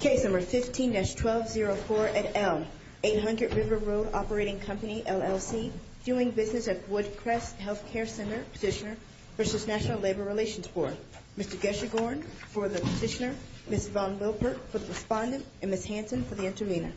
Case No. 15-1204 at Elm, 800 River Road Operating Company, LLC, Viewing Business at Woodcrest Health Care Center, Petitioner, v. National Labor Relations Board. Mr. Gershegorn for the Petitioner, Ms. Von Wilpert for the Respondent, and Ms. Hansen for the Intervener.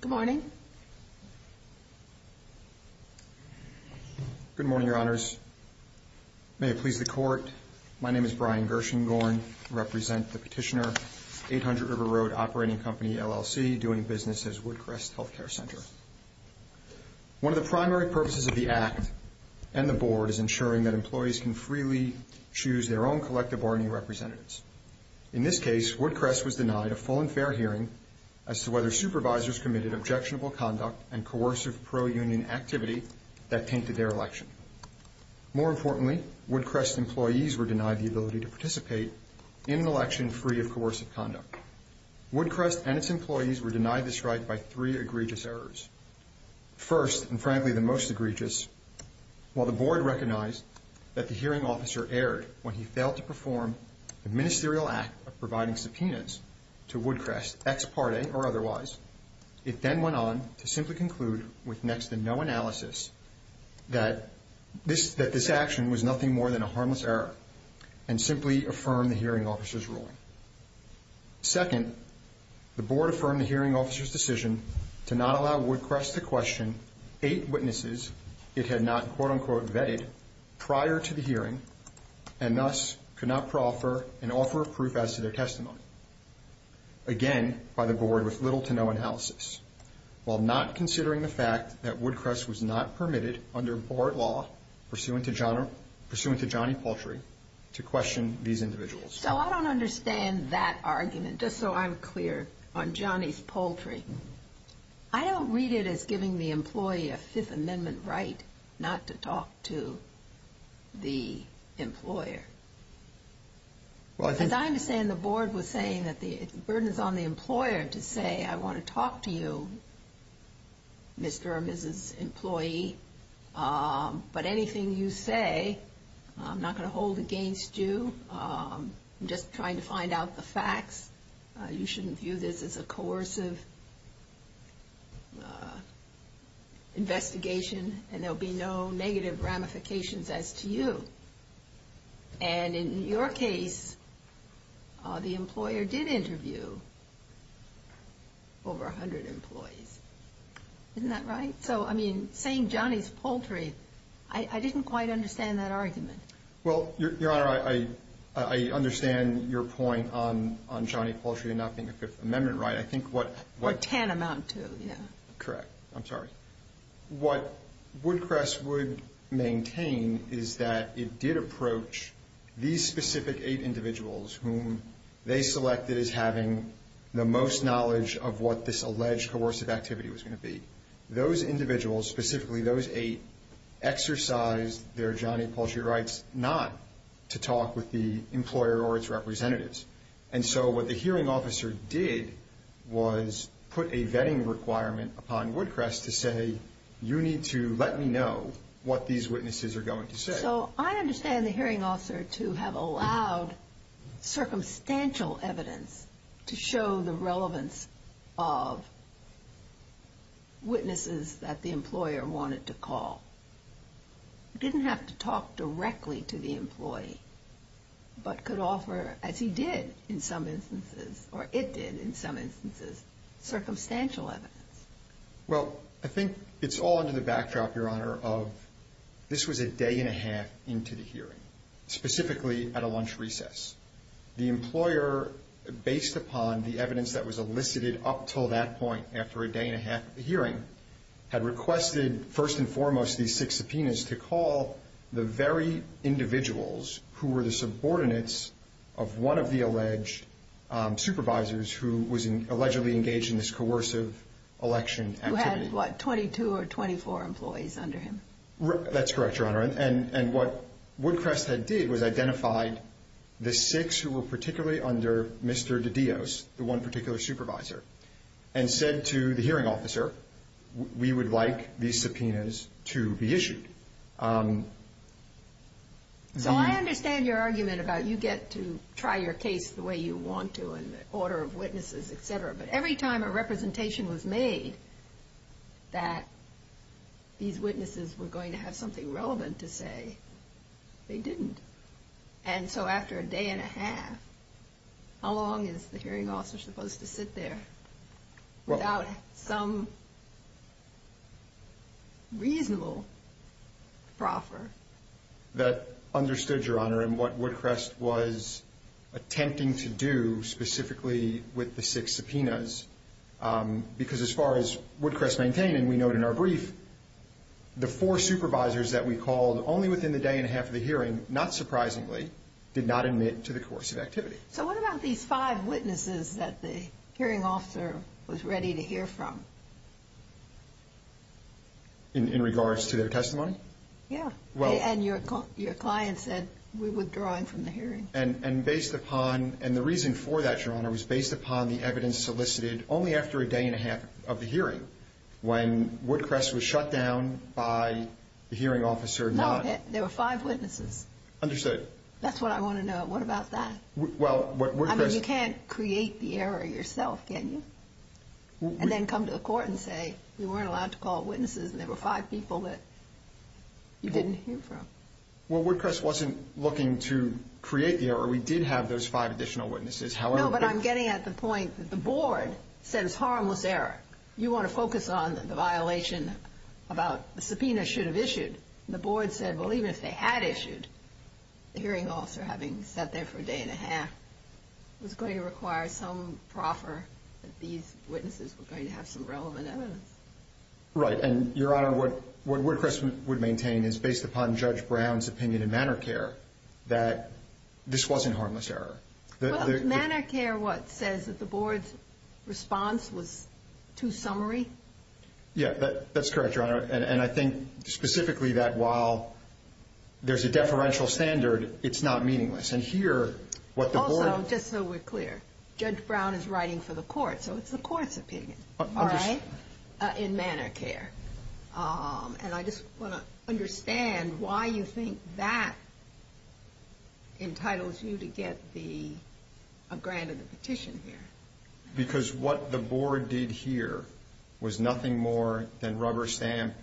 Good morning. Good morning, Your Honors. May it please the Court, my name is Brian Gershengorn. I represent the Petitioner, 800 River Road Operating Company, LLC, Viewing Business at Woodcrest Health Care Center. One of the primary purposes of the Act and the Board is ensuring that employees can freely choose their own collective bargaining representatives. In this case, Woodcrest was denied a full and fair hearing as to whether supervisors committed objectionable conduct and coercive pro-union activity that tainted their election. More importantly, Woodcrest employees were denied the ability to participate in an election free of coercive conduct. Woodcrest and its employees were denied this right by three egregious errors. First, and frankly the most egregious, while the Board recognized that the hearing officer erred when he failed to perform the ministerial act of providing subpoenas to Woodcrest, ex parte or otherwise, it then went on to simply conclude with next to no analysis that this action was nothing more than a harmless error and simply affirmed the hearing officer's ruling. Second, the Board affirmed the hearing officer's decision to not allow Woodcrest to question eight witnesses it had not quote unquote vetted prior to the hearing and thus could not proffer an offer of proof as to their testimony. Again, by the Board with little to no analysis, while not considering the fact that Woodcrest was not permitted under Board law pursuant to Johnny Poultry to question these individuals. So I don't understand that argument, just so I'm clear on Johnny's Poultry. I don't read it as giving the employee a Fifth Amendment right not to talk to the employer. As I understand, the Board was saying that the burden is on the employer to say, I want to talk to you, Mr. or Mrs. Employee, but anything you say, I'm not going to hold against you. I'm just trying to find out the facts. You shouldn't view this as a coercive investigation and there will be no negative ramifications as to you. And in your case, the employer did interview over 100 employees. Isn't that right? So, I mean, saying Johnny's Poultry, I didn't quite understand that argument. Well, Your Honor, I understand your point on Johnny Poultry not being a Fifth Amendment right. I think what Or TAN amount to, yeah. Correct. I'm sorry. What Woodcrest would maintain is that it did approach these specific eight individuals whom they selected as having the most knowledge of what this alleged coercive activity was going to be. Those individuals, specifically those eight, exercised their Johnny Poultry rights not to talk with the employer or its representatives. And so what the hearing officer did was put a vetting requirement upon Woodcrest to say, you need to let me know what these witnesses are going to say. So, I understand the hearing officer to have allowed circumstantial evidence to show the relevance of witnesses that the employer wanted to call. He didn't have to talk directly to the employee, but could offer, as he did in some instances, or it did in some instances, circumstantial evidence. Well, I think it's all under the backdrop, Your Honor, of this was a day and a half into the hearing, specifically at a lunch recess. The employer, based upon the evidence that was elicited up until that point after a day and a half of the hearing, had requested first and foremost these six subpoenas to call the very individuals who were the subordinates of one of the alleged supervisors who was allegedly engaged in this coercive election activity. Who had, what, 22 or 24 employees under him? That's correct, Your Honor. And what Woodcrest had did was identified the six who were particularly under Mr. De Dios, the one particular supervisor, and said to the hearing officer, we would like these subpoenas to be issued. So I understand your argument about you get to try your case the way you want to in the order of witnesses, et cetera, but every time a representation was made that these witnesses were going to have something relevant to say, they didn't. And so after a day and a half, how long is the hearing officer supposed to sit there without some reasonable proffer? That understood, Your Honor, and what Woodcrest was attempting to do specifically with the six subpoenas, because as far as Woodcrest maintained, and we note in our brief, the four supervisors that we called only within the day and a half of the hearing, not surprisingly, did not admit to the coercive activity. So what about these five witnesses that the hearing officer was ready to hear from? In regards to their testimony? Yeah, and your client said, we're withdrawing from the hearing. And based upon, and the reason for that, Your Honor, was based upon the evidence solicited only after a day and a half of the hearing when Woodcrest was shut down by the hearing officer. No, there were five witnesses. Understood. That's what I want to know. What about that? Well, what Woodcrest... I mean, you can't create the error yourself, can you? And then come to the court and say, you weren't allowed to call witnesses, and there were five people that you didn't hear from. Well, Woodcrest wasn't looking to create the error. We did have those five additional witnesses. No, but I'm getting at the point that the board said it's harmless error. You want to focus on the violation about the subpoena should have issued. The board said, well, even if they had issued, the hearing officer, having sat there for a day and a half, was going to require some proffer that these witnesses were going to have some relevant evidence. Right, and, Your Honor, what Woodcrest would maintain is, based upon Judge Brown's opinion in manner of care, that this wasn't harmless error. Well, is manner of care what says that the board's response was too summary? Yeah, that's correct, Your Honor. And I think specifically that while there's a deferential standard, it's not meaningless. And here, what the board... Also, just so we're clear, Judge Brown is writing for the court, so it's the court's opinion, all right, in manner of care. And I just want to understand why you think that entitles you to get a grant of the petition here. Because what the board did here was nothing more than rubber stamp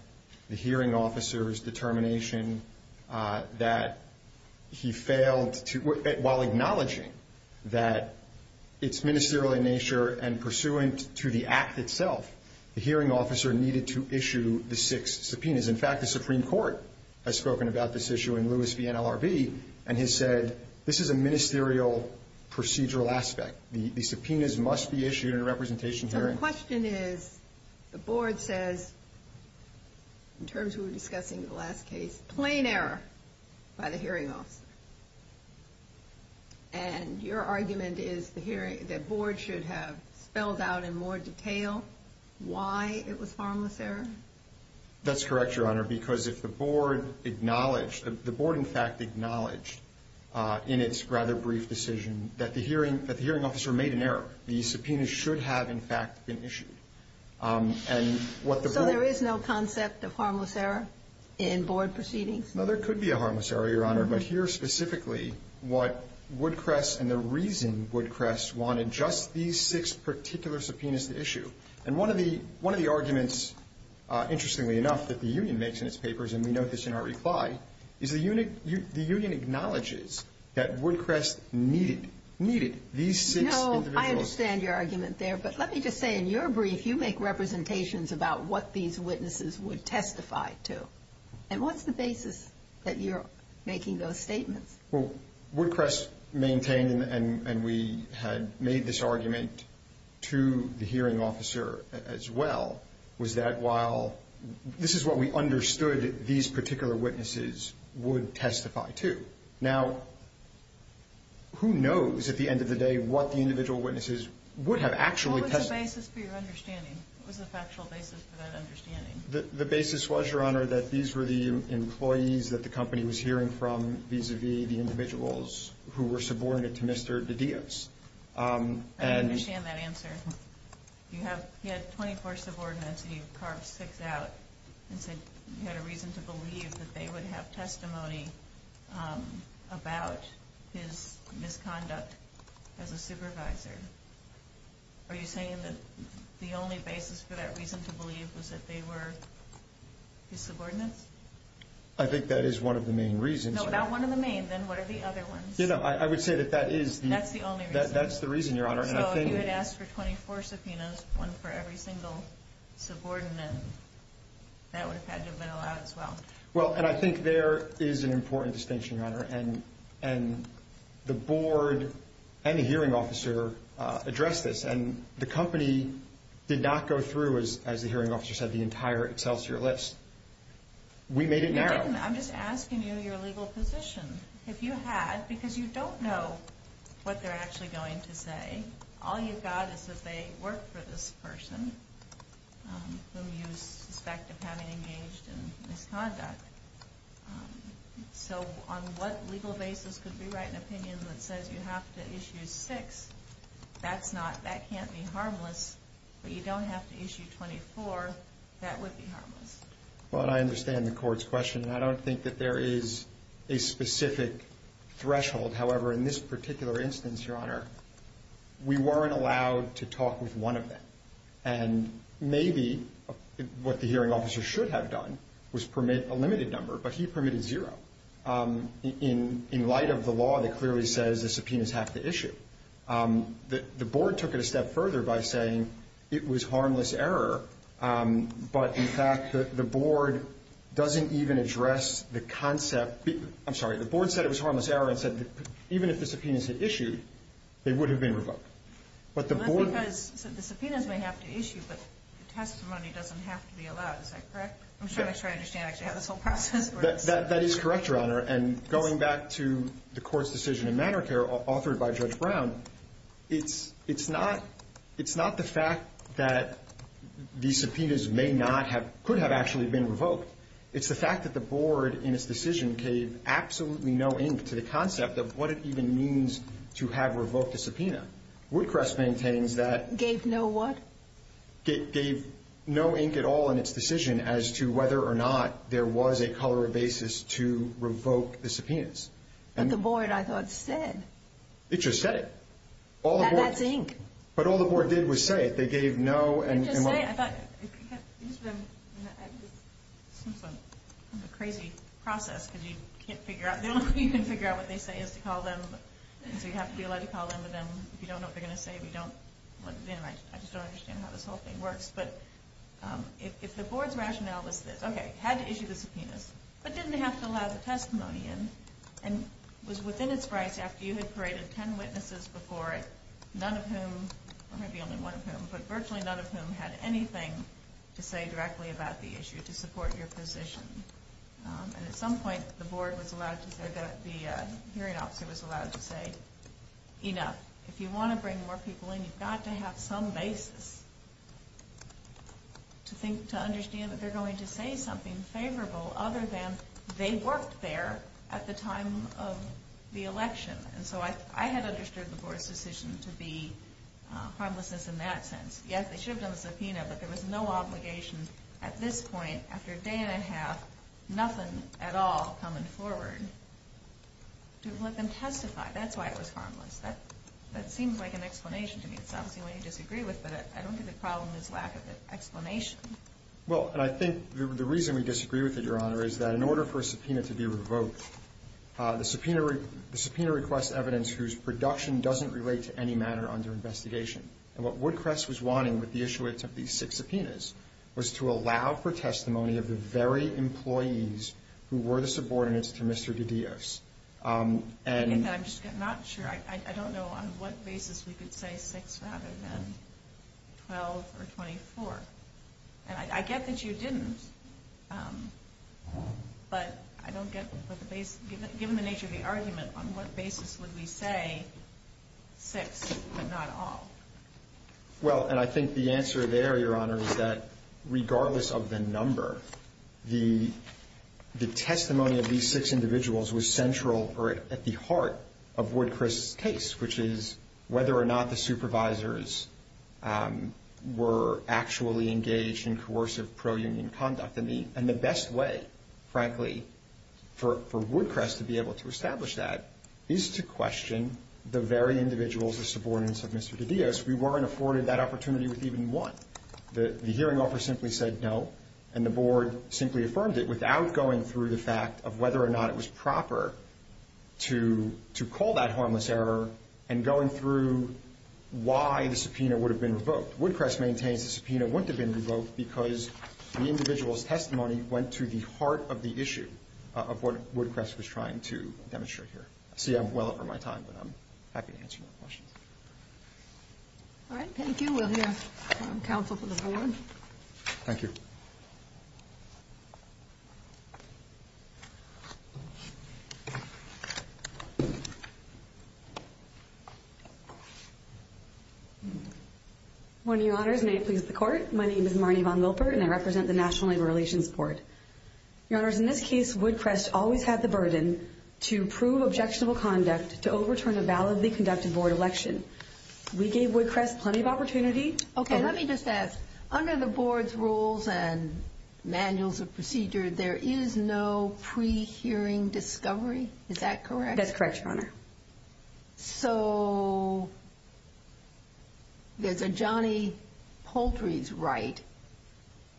the hearing officer's determination that he failed to, while acknowledging that it's ministerial in nature and pursuant to the act itself, the hearing officer needed to issue the six subpoenas. In fact, the Supreme Court has spoken about this issue in Lewis v. NLRB and has said, this is a ministerial procedural aspect. The subpoenas must be issued in a representation hearing. So the question is, the board says, in terms of discussing the last case, plain error by the hearing officer. And your argument is that the board should have spelled out in more detail why it was harmless error? That's correct, Your Honor, because if the board acknowledged, the board, in fact, acknowledged in its rather brief decision that the hearing officer made an error. The subpoenas should have, in fact, been issued. So there is no concept of harmless error in board proceedings? No, there could be a harmless error, Your Honor. But here, specifically, what Woodcrest and the reason Woodcrest wanted just these six particular subpoenas to issue. And one of the arguments, interestingly enough, that the union makes in its papers, and we note this in our reply, is the union acknowledges that Woodcrest needed these six individuals. No, I understand your argument there. But let me just say, in your brief, you make representations about what these witnesses would testify to. And what's the basis that you're making those statements? Well, Woodcrest maintained, and we had made this argument to the hearing officer as well, was that while this is what we understood these particular witnesses would testify to. Now, who knows, at the end of the day, what the individual witnesses would have actually testified to? What was the basis for your understanding? What was the factual basis for that understanding? The basis was, Your Honor, that these were the employees that the company was hearing from, vis-a-vis the individuals who were subordinate to Mr. De Dios. I understand that answer. You had 24 subordinates, and you carved six out and said you had a reason to believe that they would have testimony about his misconduct as a supervisor. Are you saying that the only basis for that reason to believe was that they were his subordinates? I think that is one of the main reasons. No, not one of the main. Then what are the other ones? I would say that that is the reason, Your Honor. So if you had asked for 24 subpoenas, one for every single subordinate, that would have had to have been allowed as well. Well, and I think there is an important distinction, Your Honor, and the board and the hearing officer addressed this, and the company did not go through, as the hearing officer said, the entire Excelsior list. We made it narrow. You didn't. I'm just asking you your legal position. If you had, because you don't know what they're actually going to say, I think all you've got is that they work for this person whom you suspect of having engaged in misconduct. So on what legal basis could we write an opinion that says you have to issue six? That's not, that can't be harmless, but you don't have to issue 24. That would be harmless. Well, and I understand the court's question, and I don't think that there is a specific threshold. However, in this particular instance, Your Honor, we weren't allowed to talk with one of them, and maybe what the hearing officer should have done was permit a limited number, but he permitted zero. In light of the law that clearly says the subpoenas have to issue, the board took it a step further by saying it was harmless error, but in fact the board doesn't even address the concept. I'm sorry, the board said it was harmless error and said even if the subpoenas had issued, they would have been revoked. Well, that's because the subpoenas may have to issue, but the testimony doesn't have to be allowed. Is that correct? I'm trying to make sure I understand actually how this whole process works. That is correct, Your Honor. And going back to the court's decision in Manor Care authored by Judge Brown, it's not the fact that the subpoenas may not have – could have actually been revoked. It's the fact that the board in its decision gave absolutely no ink to the concept of what it even means to have revoked a subpoena. Woodcrest maintains that – Gave no what? But the board, I thought, said – It just said it. That that's ink. But all the board did was say it. They gave no – It just said it. I thought – it's just been – it seems like a crazy process because you can't figure out – the only way you can figure out what they say is to call them, so you have to be allowed to call them, but then if you don't know what they're going to say, you don't – anyway, I just don't understand how this whole thing works, but if the board's rationale was this, okay, had to issue the subpoenas, but didn't have to allow the testimony in, and was within its rights after you had paraded ten witnesses before it, none of whom – it might be only one of whom, but virtually none of whom had anything to say directly about the issue to support your position. And at some point, the board was allowed to say that – the hearing officer was allowed to say, you know, if you want to bring more people in, you've got to have some basis to think – to understand that they're going to say something favorable other than they worked there at the time of the election. And so I had understood the board's decision to be harmless in that sense. Yes, they should have done the subpoena, but there was no obligation at this point, after a day and a half, nothing at all coming forward to let them testify. That's why it was harmless. That seems like an explanation to me. It's obviously one you disagree with, but I don't think the problem is lack of an explanation. Well, and I think the reason we disagree with it, Your Honor, is that in order for a subpoena to be revoked, the subpoena requests evidence whose production doesn't relate to any matter under investigation. And what Woodcrest was wanting with the issuance of these six subpoenas was to allow for testimony of the very employees who were the subordinates to Mr. DiDios. I'm just not sure. I don't know on what basis we could say six rather than 12 or 24. And I get that you didn't, but given the nature of the argument, on what basis would we say six but not all? Well, and I think the answer there, Your Honor, is that regardless of the number, the testimony of these six individuals was central or at the heart of Woodcrest's case, which is whether or not the supervisors were actually engaged in coercive pro-union conduct. And the best way, frankly, for Woodcrest to be able to establish that is to question the very individuals, the subordinates of Mr. DiDios. We weren't afforded that opportunity with even one. The hearing offer simply said no, and the Board simply affirmed it without going through the fact of whether or not it was proper to call that harmless error and going through why the subpoena would have been revoked. Woodcrest maintains the subpoena wouldn't have been revoked because the individual's testimony went to the heart of the issue of what Woodcrest was trying to demonstrate here. I see I'm well over my time, but I'm happy to answer your questions. All right. Thank you. We'll hear from counsel for the board. Thank you. Morning, Your Honors. May it please the Court. My name is Marnie Von Wilpert, and I represent the National Labor Relations Board. Your Honors, in this case, Woodcrest always had the burden to prove objectionable conduct, to overturn a validly conducted board election. We gave Woodcrest plenty of opportunity. Okay. Let me just ask, under the board's rules and manuals of procedure, there is no pre-hearing discovery. Is that correct? That's correct, Your Honor. So there's a Johnny Poultry's right,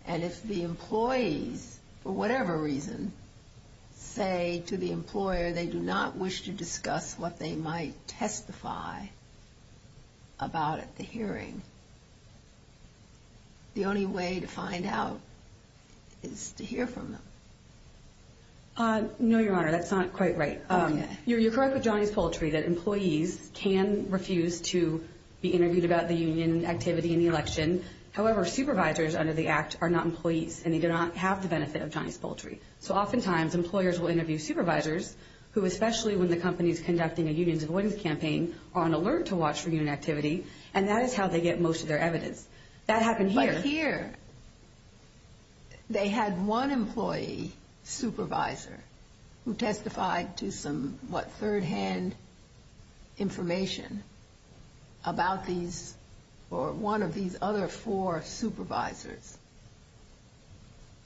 and if the employees, for whatever reason, say to the employer they do not wish to discuss what they might testify about at the hearing, the only way to find out is to hear from them? No, Your Honor, that's not quite right. You're correct with Johnny's Poultry that employees can refuse to be interviewed about the union activity in the election. However, supervisors under the Act are not employees, and they do not have the benefit of Johnny's Poultry. So oftentimes, employers will interview supervisors who, especially when the company is conducting a unions avoidance campaign, are on alert to watch for union activity, and that is how they get most of their evidence. That happened here. But here, they had one employee supervisor who testified to some, what, third-hand information about these, or one of these other four supervisors,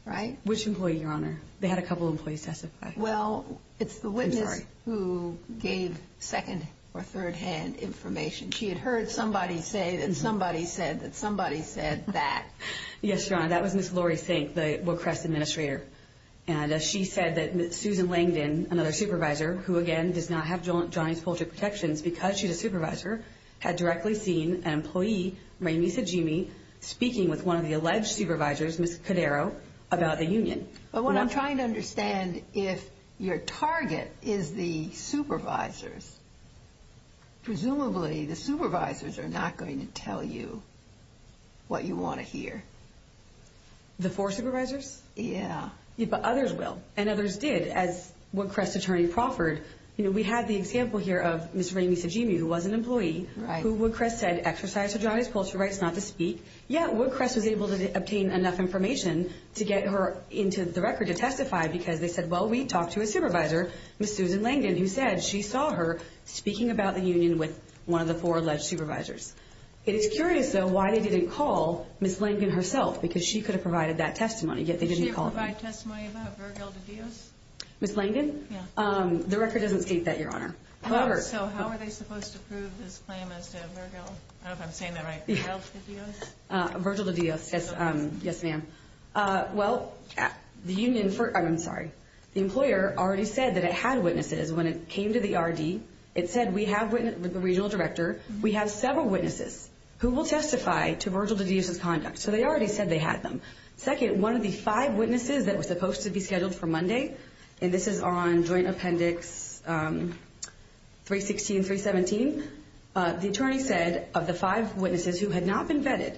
right? Which employee, Your Honor? They had a couple of employees testify. Well, it's the witness who gave second- or third-hand information. She had heard somebody say that somebody said that somebody said that. Yes, Your Honor, that was Ms. Lori Sink, the Wilcrest administrator, and she said that Susan Langdon, another supervisor, who, again, does not have Johnny's Poultry protections because she's a supervisor, had directly seen an employee, Ramey Sajimi, speaking with one of the alleged supervisors, Ms. Cadero, about the union. But what I'm trying to understand, if your target is the supervisors, presumably the supervisors are not going to tell you what you want to hear. The four supervisors? Yeah. But others will, and others did, as Wilcrest's attorney proffered. We have the example here of Ms. Ramey Sajimi, who was an employee, who, Wilcrest said, exercised her Johnny's Poultry rights not to speak. Yeah, Wilcrest was able to obtain enough information to get her into the record to testify because they said, well, we talked to a supervisor, Ms. Susan Langdon, who said she saw her speaking about the union with one of the four alleged supervisors. It is curious, though, why they didn't call Ms. Langdon herself, because she could have provided that testimony, yet they didn't call her. Did they provide testimony about Virgil de Dios? Ms. Langdon? Yeah. The record doesn't state that, Your Honor. So how are they supposed to prove this claim as to Virgil, I don't know if I'm saying that right, Virgil de Dios? Virgil de Dios, yes, ma'am. Well, the union, I'm sorry, the employer already said that it had witnesses when it came to the RD. It said, we have a regional director, we have several witnesses who will testify to Virgil de Dios' conduct. So they already said they had them. Second, one of the five witnesses that was supposed to be scheduled for Monday, and this is on Joint Appendix 316, 317, the attorney said of the five witnesses who had not been vetted,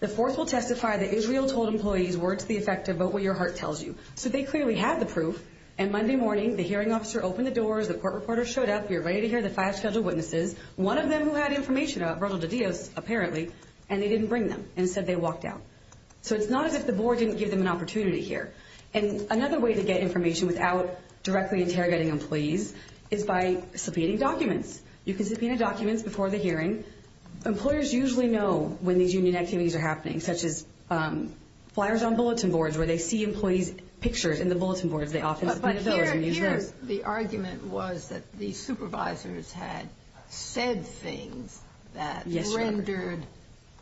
the fourth will testify that Israel told employees, word to the effective, vote what your heart tells you. So they clearly had the proof, and Monday morning, the hearing officer opened the doors, the court reporter showed up, we were ready to hear the five scheduled witnesses, one of them who had information about Virgil de Dios, apparently, and they didn't bring them and said they walked out. So it's not as if the board didn't give them an opportunity here. And another way to get information without directly interrogating employees is by subpoenaing documents. You can subpoena documents before the hearing. Employers usually know when these union activities are happening, such as flyers on bulletin boards, where they see employees' pictures in the bulletin boards, they often subpoena those. The argument was that the supervisors had said things that rendered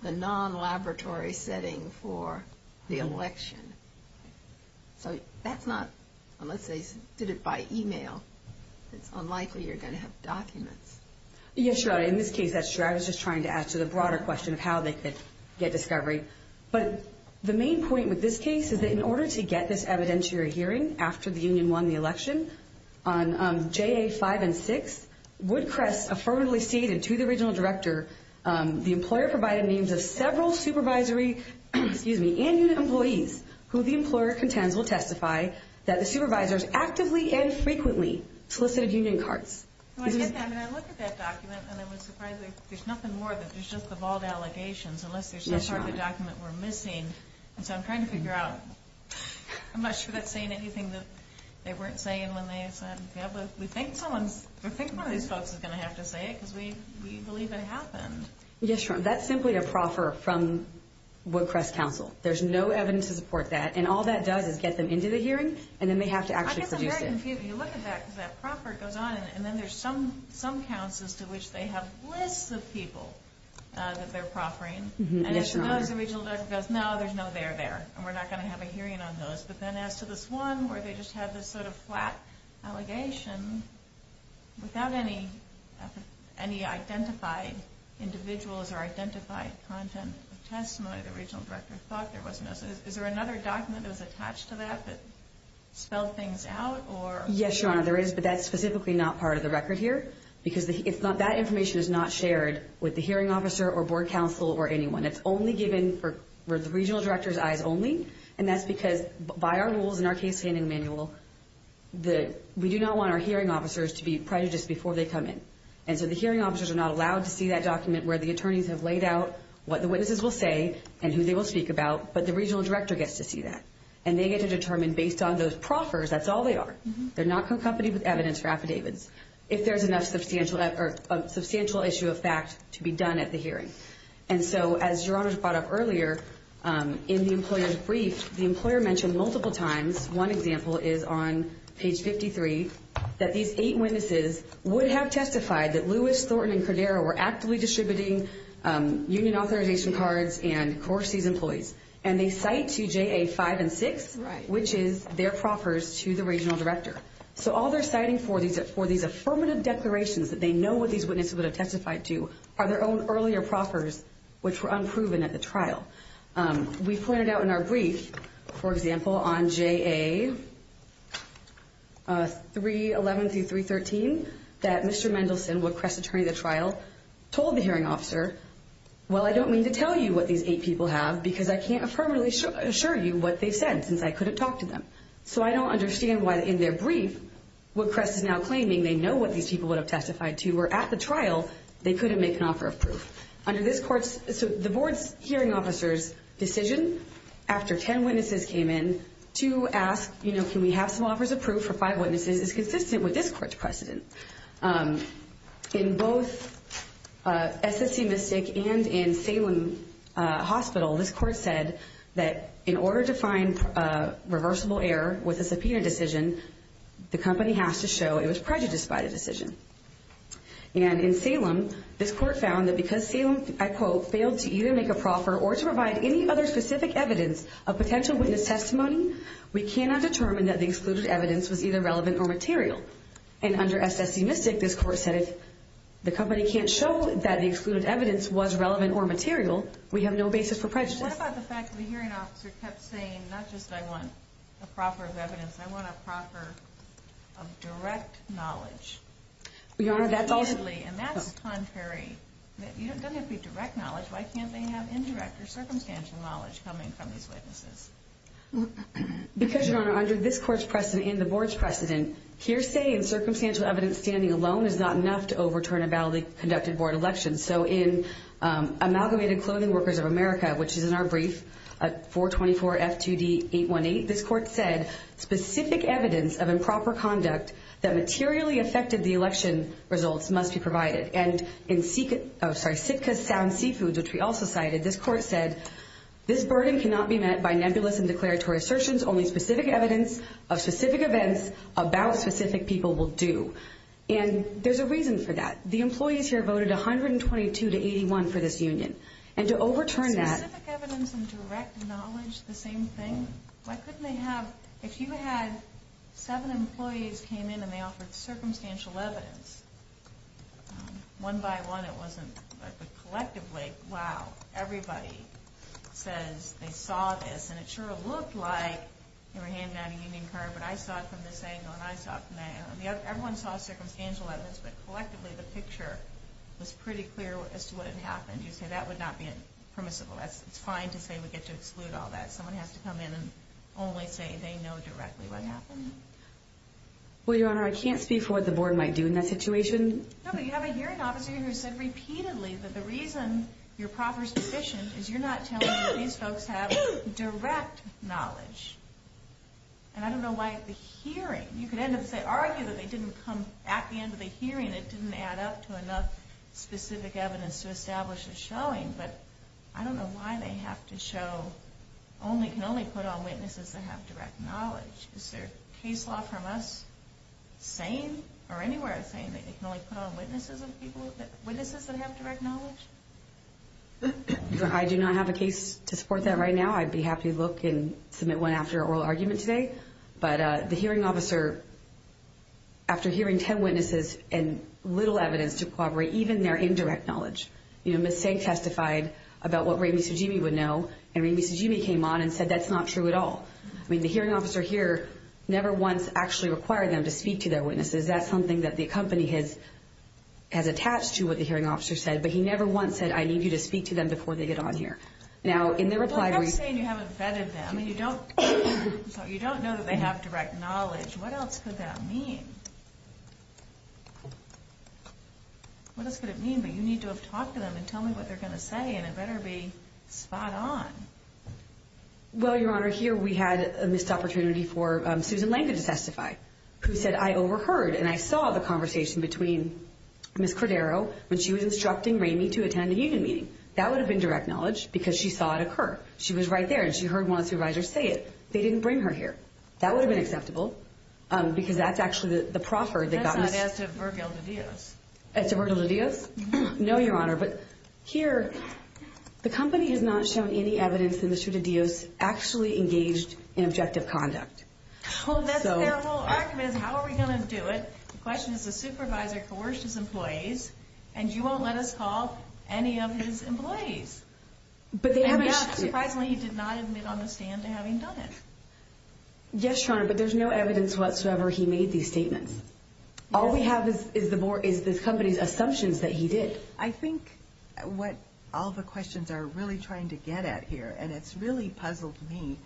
the non-laboratory setting for the election. So that's not, unless they did it by e-mail, it's unlikely you're going to have documents. Yes, Your Honor, in this case, that's true. I was just trying to answer the broader question of how they could get discovery. But the main point with this case is that in order to get this evidentiary hearing after the union won the election, on J.A. 5 and 6, Woodcrest affirmatively stated to the regional director, the employer provided names of several supervisory and union employees, who the employer contends will testify that the supervisors actively and frequently solicited union cards. I look at that document and I'm surprised there's nothing more than just the bald allegations, unless there's some part of the document we're missing. And so I'm trying to figure out, I'm not sure that's saying anything that they weren't saying when they said, yeah, but we think someone's, we think one of these folks is going to have to say it because we believe it happened. Yes, Your Honor, that's simply a proffer from Woodcrest Council. There's no evidence to support that. And all that does is get them into the hearing, and then they have to actually produce it. I guess I'm very confused when you look at that, because that proffer goes on, and then there's some counts as to which they have lists of people that they're proffering. And as to those, the regional director goes, no, there's no there there, and we're not going to have a hearing on those. But then as to this one where they just had this sort of flat allegation, without any identified individuals or identified content of testimony, the regional director thought there was no such thing. Is there another document that was attached to that that spelled things out? Yes, Your Honor, there is, but that's specifically not part of the record here, because that information is not shared with the hearing officer or board counsel or anyone. It's only given for the regional director's eyes only, and that's because by our rules and our case-handling manual, we do not want our hearing officers to be prejudiced before they come in. And so the hearing officers are not allowed to see that document where the attorneys have laid out what the witnesses will say and who they will speak about, but the regional director gets to see that. And they get to determine, based on those proffers, that's all they are. They're not accompanied with evidence or affidavits, if there's enough substantial issue of fact to be done at the hearing. And so, as Your Honor brought up earlier, in the employer's brief, the employer mentioned multiple times, one example is on page 53, that these eight witnesses would have testified that Lewis, Thornton, and Cordero were actively distributing union authorization cards and Corsi's employees, and they cite to J.A. 5 and 6, which is their proffers to the regional director. So all they're citing for these affirmative declarations that they know what these witnesses would have testified to are their own earlier proffers, which were unproven at the trial. We pointed out in our brief, for example, on J.A. 311 through 313, that Mr. Mendelson, Woodcrest attorney at the trial, told the hearing officer, well, I don't mean to tell you what these eight people have, because I can't affirmatively assure you what they've said, since I couldn't talk to them. So I don't understand why, in their brief, Woodcrest is now claiming they know what these people would have testified to, where at the trial, they couldn't make an offer of proof. Under this court's, the board's hearing officer's decision, after ten witnesses came in, to ask, you know, can we have some offers of proof for five witnesses, is consistent with this court's precedent. In both SSC Mystic and in Salem Hospital, this court said that in order to find reversible error with a subpoena decision, the company has to show it was prejudiced by the decision. And in Salem, this court found that because Salem, I quote, failed to either make a proffer or to provide any other specific evidence of potential witness testimony, we cannot determine that the excluded evidence was either relevant or material. And under SSC Mystic, this court said if the company can't show that the excluded evidence was relevant or material, we have no basis for prejudice. What about the fact that the hearing officer kept saying, not just I want a proffer of evidence, I want a proffer of direct knowledge? Your Honor, that's also... And that's contrary. It doesn't have to be direct knowledge. Why can't they have indirect or circumstantial knowledge coming from these witnesses? Because, Your Honor, under this court's precedent and the board's precedent, hearsay and circumstantial evidence standing alone is not enough to overturn a validly conducted board election. So in Amalgamated Clothing Workers of America, which is in our brief, 424 F2D 818, this court said specific evidence of improper conduct that materially affected the election results must be provided. And in Sitka Sound Seafood, which we also cited, this court said this burden cannot be met by nebulous and declaratory assertions. Only specific evidence of specific events about specific people will do. And there's a reason for that. The employees here voted 122 to 81 for this union. And to overturn that... Specific evidence and direct knowledge, the same thing? Why couldn't they have... If you had seven employees came in and they offered circumstantial evidence, one by one it wasn't... But collectively, wow, everybody says they saw this. And it sure looked like they were handing out a union card, but I saw it from this angle and I saw it from that angle. Everyone saw circumstantial evidence, but collectively the picture was pretty clear as to what had happened. You say that would not be permissible. It's fine to say we get to exclude all that. Someone has to come in and only say they know directly what happened. Well, Your Honor, I can't speak for what the board might do in that situation. No, but you have a hearing officer here who said repeatedly that the reason your proffer's deficient is you're not telling me these folks have direct knowledge. And I don't know why the hearing... You could end up saying, argue that they didn't come at the end of the hearing. It didn't add up to enough specific evidence to establish a showing. But I don't know why they have to show... They can only put on witnesses that have direct knowledge. Is there case law from us saying or anywhere saying that they can only put on witnesses that have direct knowledge? I do not have a case to support that right now. I'd be happy to look and submit one after oral argument today. But the hearing officer, after hearing 10 witnesses and little evidence to corroborate even their indirect knowledge, Ms. Sang testified about what Ramey Sujimi would know, and Ramey Sujimi came on and said that's not true at all. I mean, the hearing officer here never once actually required them to speak to their witnesses. That's something that the company has attached to what the hearing officer said, but he never once said, I need you to speak to them before they get on here. Now, in their reply... Well, that's saying you haven't vetted them and you don't know that they have direct knowledge. What else could that mean? What else could it mean? But you need to have talked to them and tell them what they're going to say, and it better be spot on. Well, Your Honor, here we had a missed opportunity for Susan Lanca to testify, who said, I overheard and I saw the conversation between Ms. Cordero when she was instructing Ramey to attend a union meeting. That would have been direct knowledge because she saw it occur. She was right there and she heard one of the supervisors say it. They didn't bring her here. That would have been acceptable because that's actually the proffer that got Ms. to Virgil de Dios. To Virgil de Dios? No, Your Honor. But here, the company has not shown any evidence that Mr. de Dios actually engaged in objective conduct. Well, that's their whole argument is how are we going to do it? The question is the supervisor coerced his employees, and you won't let us call any of his employees. But they haven't... Surprisingly, he did not admit on the stand to having done it. Yes, Your Honor, but there's no evidence whatsoever he made these statements. All we have is the company's assumptions that he did. I think what all the questions are really trying to get at here, and it's really puzzled me,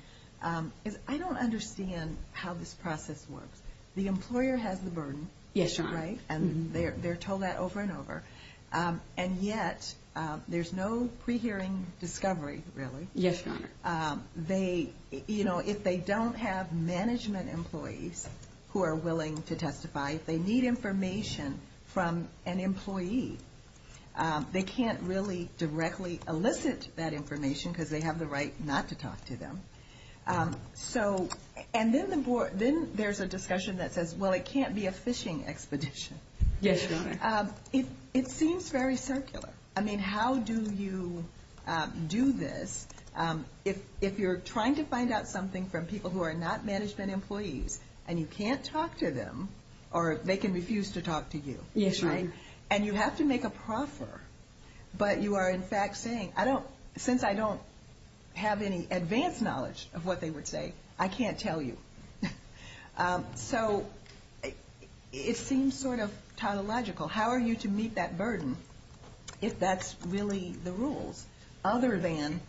is I don't understand how this process works. The employer has the burden, right? Yes, Your Honor. And they're told that over and over, and yet there's no pre-hearing discovery, really. Yes, Your Honor. They, you know, if they don't have management employees who are willing to testify, if they need information from an employee, they can't really directly elicit that information because they have the right not to talk to them. So, and then there's a discussion that says, well, it can't be a fishing expedition. Yes, Your Honor. It seems very circular. I mean, how do you do this if you're trying to find out something from people who are not management employees, and you can't talk to them, or they can refuse to talk to you, right? Yes, Your Honor. And you have to make a proffer, but you are, in fact, saying, since I don't have any advanced knowledge of what they would say, I can't tell you. So, it seems sort of tautological. How are you to meet that burden if that's really the rules, other than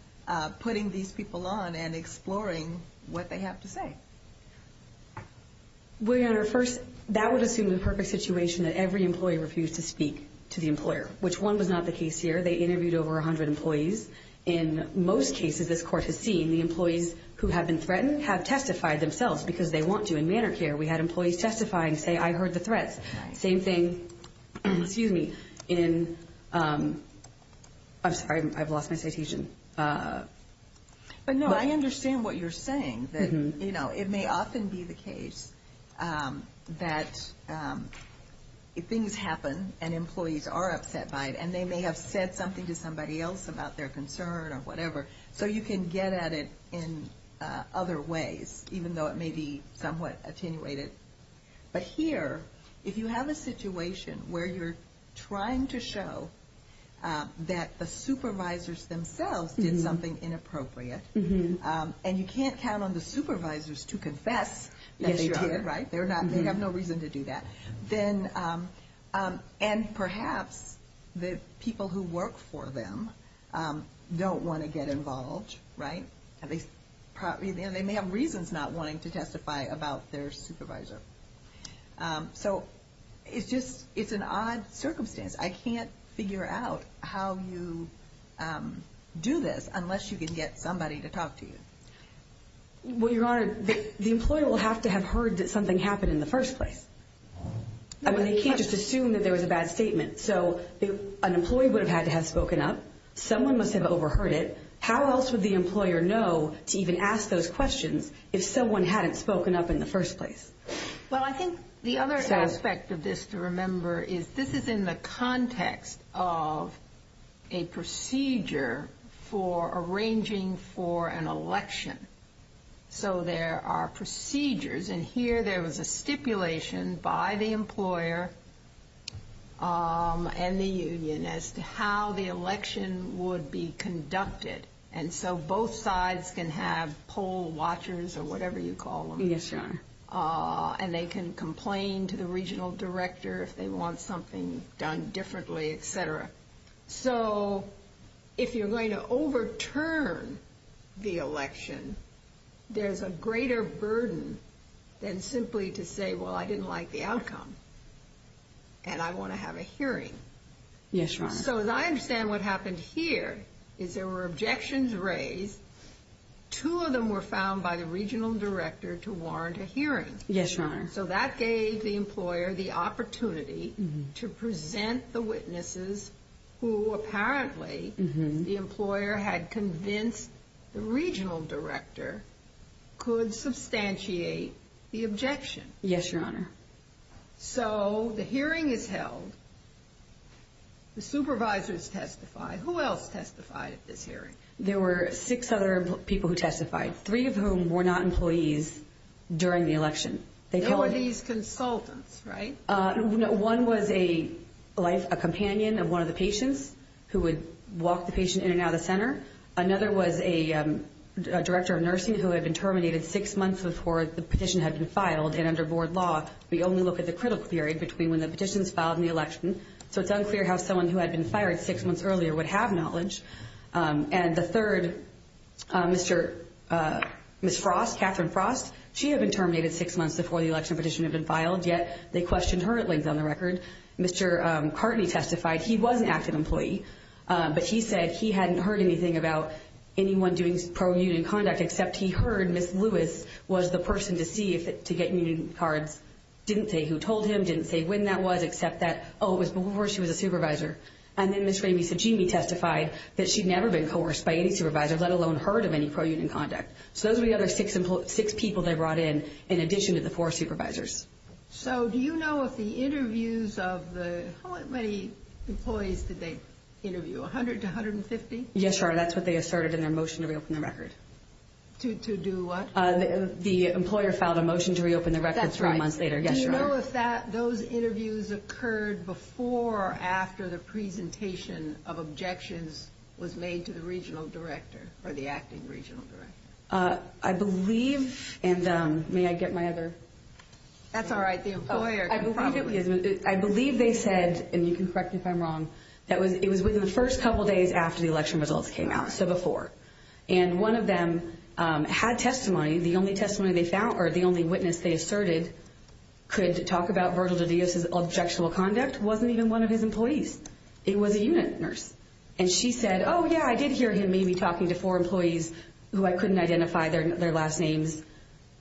putting these people on and exploring what they have to say? Well, Your Honor, first, that would assume the perfect situation that every employee refused to speak to the employer, which one was not the case here. They interviewed over 100 employees. In most cases, this Court has seen, the employees who have been threatened have testified themselves because they want to. In manor care, we had employees testify and say, I heard the threats. Same thing in, I'm sorry, I've lost my citation. But, no, I understand what you're saying. It may often be the case that things happen, and employees are upset by it, and they may have said something to somebody else about their concern or whatever. So, you can get at it in other ways, even though it may be somewhat attenuated. But here, if you have a situation where you're trying to show that the supervisors themselves did something inappropriate, and you can't count on the supervisors to confess that they did, right? They have no reason to do that. And perhaps the people who work for them don't want to get involved, right? They may have reasons not wanting to testify about their supervisor. So, it's an odd circumstance. I can't figure out how you do this unless you can get somebody to talk to you. Well, Your Honor, the employee will have to have heard that something happened in the first place. I mean, they can't just assume that there was a bad statement. So, an employee would have had to have spoken up. Someone must have overheard it. How else would the employer know to even ask those questions if someone hadn't spoken up in the first place? Well, I think the other aspect of this to remember is, this is in the context of a procedure for arranging for an election. So, there are procedures. And here, there was a stipulation by the employer and the union as to how the election would be conducted. And so, both sides can have poll watchers or whatever you call them. Yes, Your Honor. And they can complain to the regional director if they want something done differently, etc. So, if you're going to overturn the election, there's a greater burden than simply to say, well, I didn't like the outcome and I want to have a hearing. Yes, Your Honor. So, as I understand what happened here is there were objections raised. Two of them were found by the regional director to warrant a hearing. Yes, Your Honor. So, that gave the employer the opportunity to present the witnesses who apparently the employer had convinced the regional director could substantiate the objection. Yes, Your Honor. So, the hearing is held. The supervisors testify. Who else testified at this hearing? There were six other people who testified, three of whom were not employees during the election. They were these consultants, right? One was a companion of one of the patients who would walk the patient in and out of the center. Another was a director of nursing who had been terminated six months before the petition had been filed. And under board law, we only look at the critical period between when the petition was filed and the election. So, it's unclear how someone who had been fired six months earlier would have knowledge. And the third, Ms. Frost, Catherine Frost, she had been terminated six months before the election petition had been filed, yet they questioned her at length on the record. Mr. Cartney testified. He was an active employee, but he said he hadn't heard anything about anyone doing pro-union conduct except he heard Ms. Lewis was the person to see to get union cards. Didn't say who told him, didn't say when that was, except that, oh, it was before she was a supervisor. And then Ms. Ramey Sajimi testified that she'd never been coerced by any supervisor, let alone heard of any pro-union conduct. So, those were the other six people they brought in, in addition to the four supervisors. So, do you know if the interviews of the – how many employees did they interview, 100 to 150? Yes, Your Honor, that's what they asserted in their motion to reopen the record. To do what? That's right. Yes, Your Honor. Do you know if those interviews occurred before or after the presentation of objections was made to the regional director or the acting regional director? I believe – and may I get my other – That's all right. The employer can probably – I believe they said, and you can correct me if I'm wrong, that it was within the first couple days after the election results came out, so before. And one of them had testimony. The only testimony they found, or the only witness they asserted, could talk about Virgil de Dios's objectual conduct wasn't even one of his employees. It was a union nurse. And she said, oh, yeah, I did hear him maybe talking to four employees who I couldn't identify their last names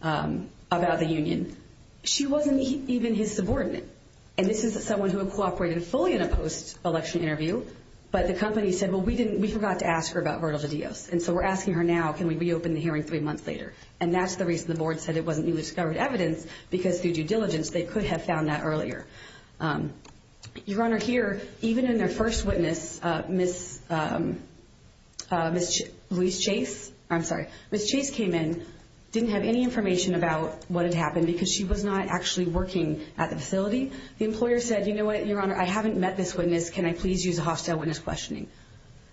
about the union. She wasn't even his subordinate. And this is someone who had cooperated fully in a post-election interview, but the company said, well, we didn't – we forgot to ask her about Virgil de Dios. And so we're asking her now, can we reopen the hearing three months later? And that's the reason the board said it wasn't even discovered evidence, because through due diligence they could have found that earlier. Your Honor, here, even in their first witness, Ms. Louise Chase – I'm sorry. Ms. Chase came in, didn't have any information about what had happened because she was not actually working at the facility. The employer said, you know what, Your Honor, I haven't met this witness. Can I please use a hostile witness questioning?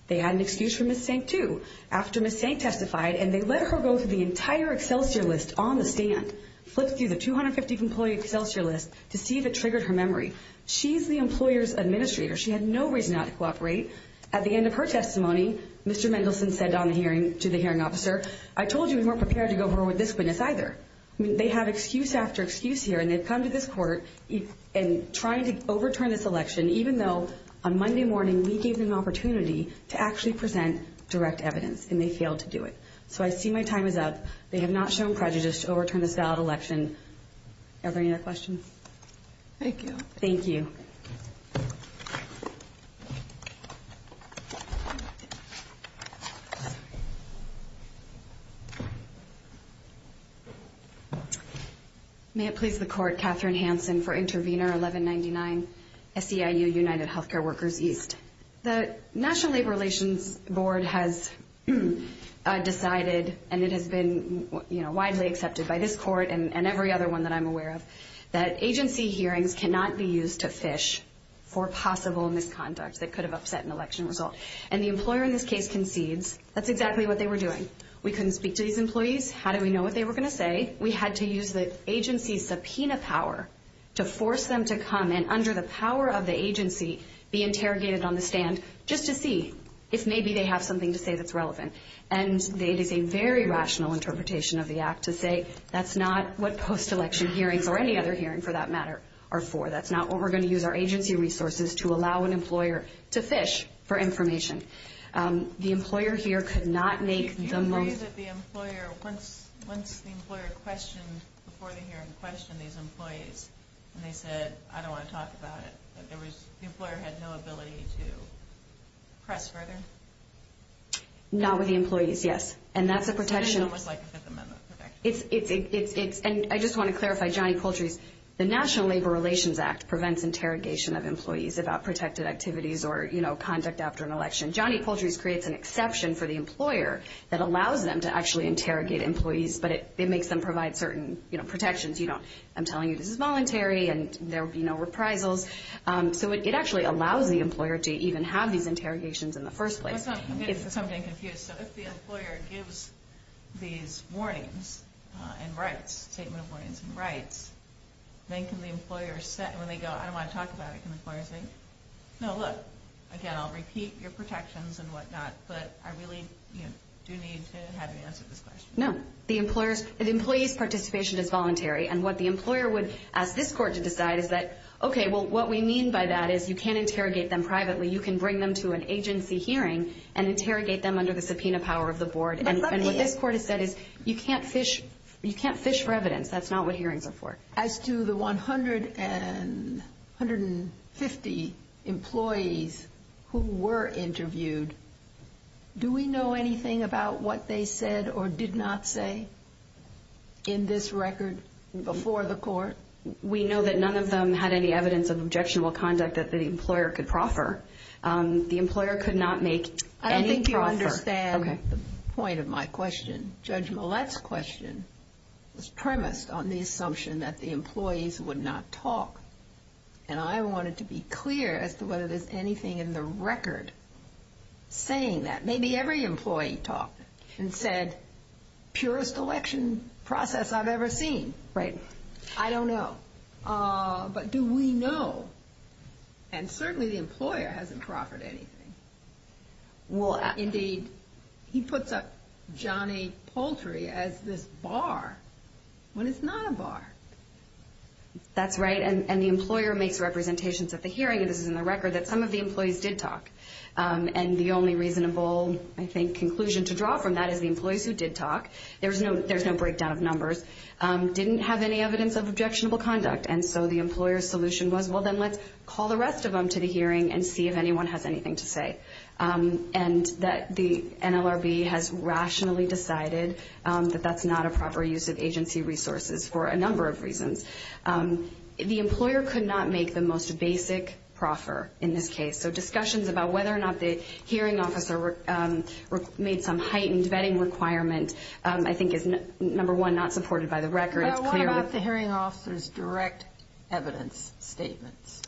They had an excuse for Ms. Stank, too. After Ms. Stank testified, and they let her go through the entire Excelsior list on the stand, flipped through the 250-employee Excelsior list to see if it triggered her memory. She's the employer's administrator. She had no reason not to cooperate. At the end of her testimony, Mr. Mendelson said on the hearing to the hearing officer, I told you we weren't prepared to go over with this witness either. I mean, they have excuse after excuse here, and they've come to this court and tried to overturn this election even though on Monday morning we gave them an opportunity to actually present direct evidence, and they failed to do it. So I see my time is up. They have not shown prejudice to overturn this ballot election. Do you have any other questions? Thank you. Thank you. Thank you. May it please the Court. Katherine Hanson for Intervenor 1199, SEIU, United Healthcare Workers East. The National Labor Relations Board has decided, and it has been, you know, widely accepted by this court and every other one that I'm aware of, that agency hearings cannot be used to fish for possible misconduct that could have upset an election result. And the employer in this case concedes that's exactly what they were doing. We couldn't speak to these employees. How did we know what they were going to say? We had to use the agency's subpoena power to force them to come and, under the power of the agency, be interrogated on the stand just to see if maybe they have something to say that's relevant. And it is a very rational interpretation of the act to say that's not what post-election hearings, or any other hearing for that matter, are for. That's not what we're going to use our agency resources to allow an employer to fish for information. The employer here could not make the most of it. Do you agree that the employer, once the employer questioned, before the hearing questioned these employees, and they said, I don't want to talk about it, that the employer had no ability to press further? Not with the employees, yes. And that's a protection. And I just want to clarify, Johnny Poultry's, the National Labor Relations Act prevents interrogation of employees about protected activities or conduct after an election. Johnny Poultry's creates an exception for the employer that allows them to actually interrogate employees, but it makes them provide certain protections. I'm telling you this is voluntary and there will be no reprisals. So it actually allows the employer to even have these interrogations in the first place. I'm getting something confused. So if the employer gives these warnings and rights, statement of warnings and rights, then can the employer say, when they go, I don't want to talk about it, can the employer say, no, look, again, I'll repeat your protections and whatnot, but I really do need to have you answer this question. No. The employee's participation is voluntary. And what the employer would ask this court to decide is that, okay, well, what we mean by that is you can't interrogate them privately. You can bring them to an agency hearing and interrogate them under the subpoena power of the board. And what this court has said is you can't fish for evidence. That's not what hearings are for. As to the 150 employees who were interviewed, do we know anything about what they said or did not say in this record before the court? We know that none of them had any evidence of objectionable conduct that the employer could proffer. The employer could not make any proffer. I don't think you understand the point of my question. Judge Millett's question was premised on the assumption that the employees would not talk. And I wanted to be clear as to whether there's anything in the record saying that. Maybe every employee talked and said, purest election process I've ever seen. Right. I don't know. But do we know? And certainly the employer hasn't proffered anything. Indeed, he puts up Johnny Poultry as this bar when it's not a bar. That's right. And the employer makes representations at the hearing, and this is in the record, that some of the employees did talk. And the only reasonable, I think, conclusion to draw from that is the employees who did talk, there's no breakdown of numbers, didn't have any evidence of objectionable conduct. And so the employer's solution was, well, then let's call the rest of them to the hearing and see if anyone has anything to say. And that the NLRB has rationally decided that that's not a proper use of agency resources for a number of reasons. The employer could not make the most basic proffer in this case. So discussions about whether or not the hearing officer made some heightened vetting requirement, I think, is, number one, not supported by the record. What about the hearing officer's direct evidence statements?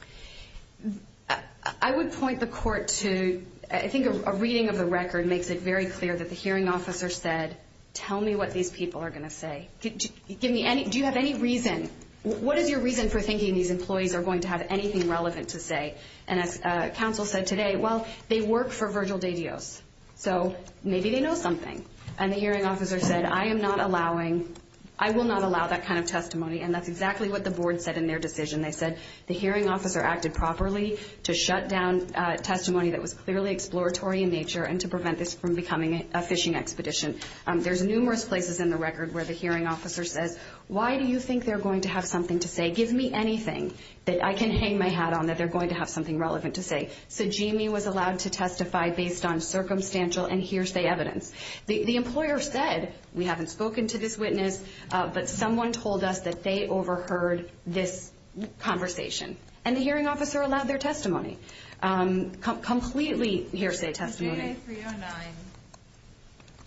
I would point the court to, I think a reading of the record makes it very clear that the hearing officer said, tell me what these people are going to say. Do you have any reason? What is your reason for thinking these employees are going to have anything relevant to say? And as counsel said today, well, they work for Virgil De Dios, so maybe they know something. And the hearing officer said, I am not allowing, I will not allow that kind of testimony. And that's exactly what the board said in their decision. They said the hearing officer acted properly to shut down testimony that was clearly exploratory in nature and to prevent this from becoming a phishing expedition. There's numerous places in the record where the hearing officer says, why do you think they're going to have something to say? Give me anything that I can hang my hat on that they're going to have something relevant to say. So Jamie was allowed to testify based on circumstantial and hearsay evidence. The employer said, we haven't spoken to this witness, but someone told us that they overheard this conversation. And the hearing officer allowed their testimony, completely hearsay testimony. J309,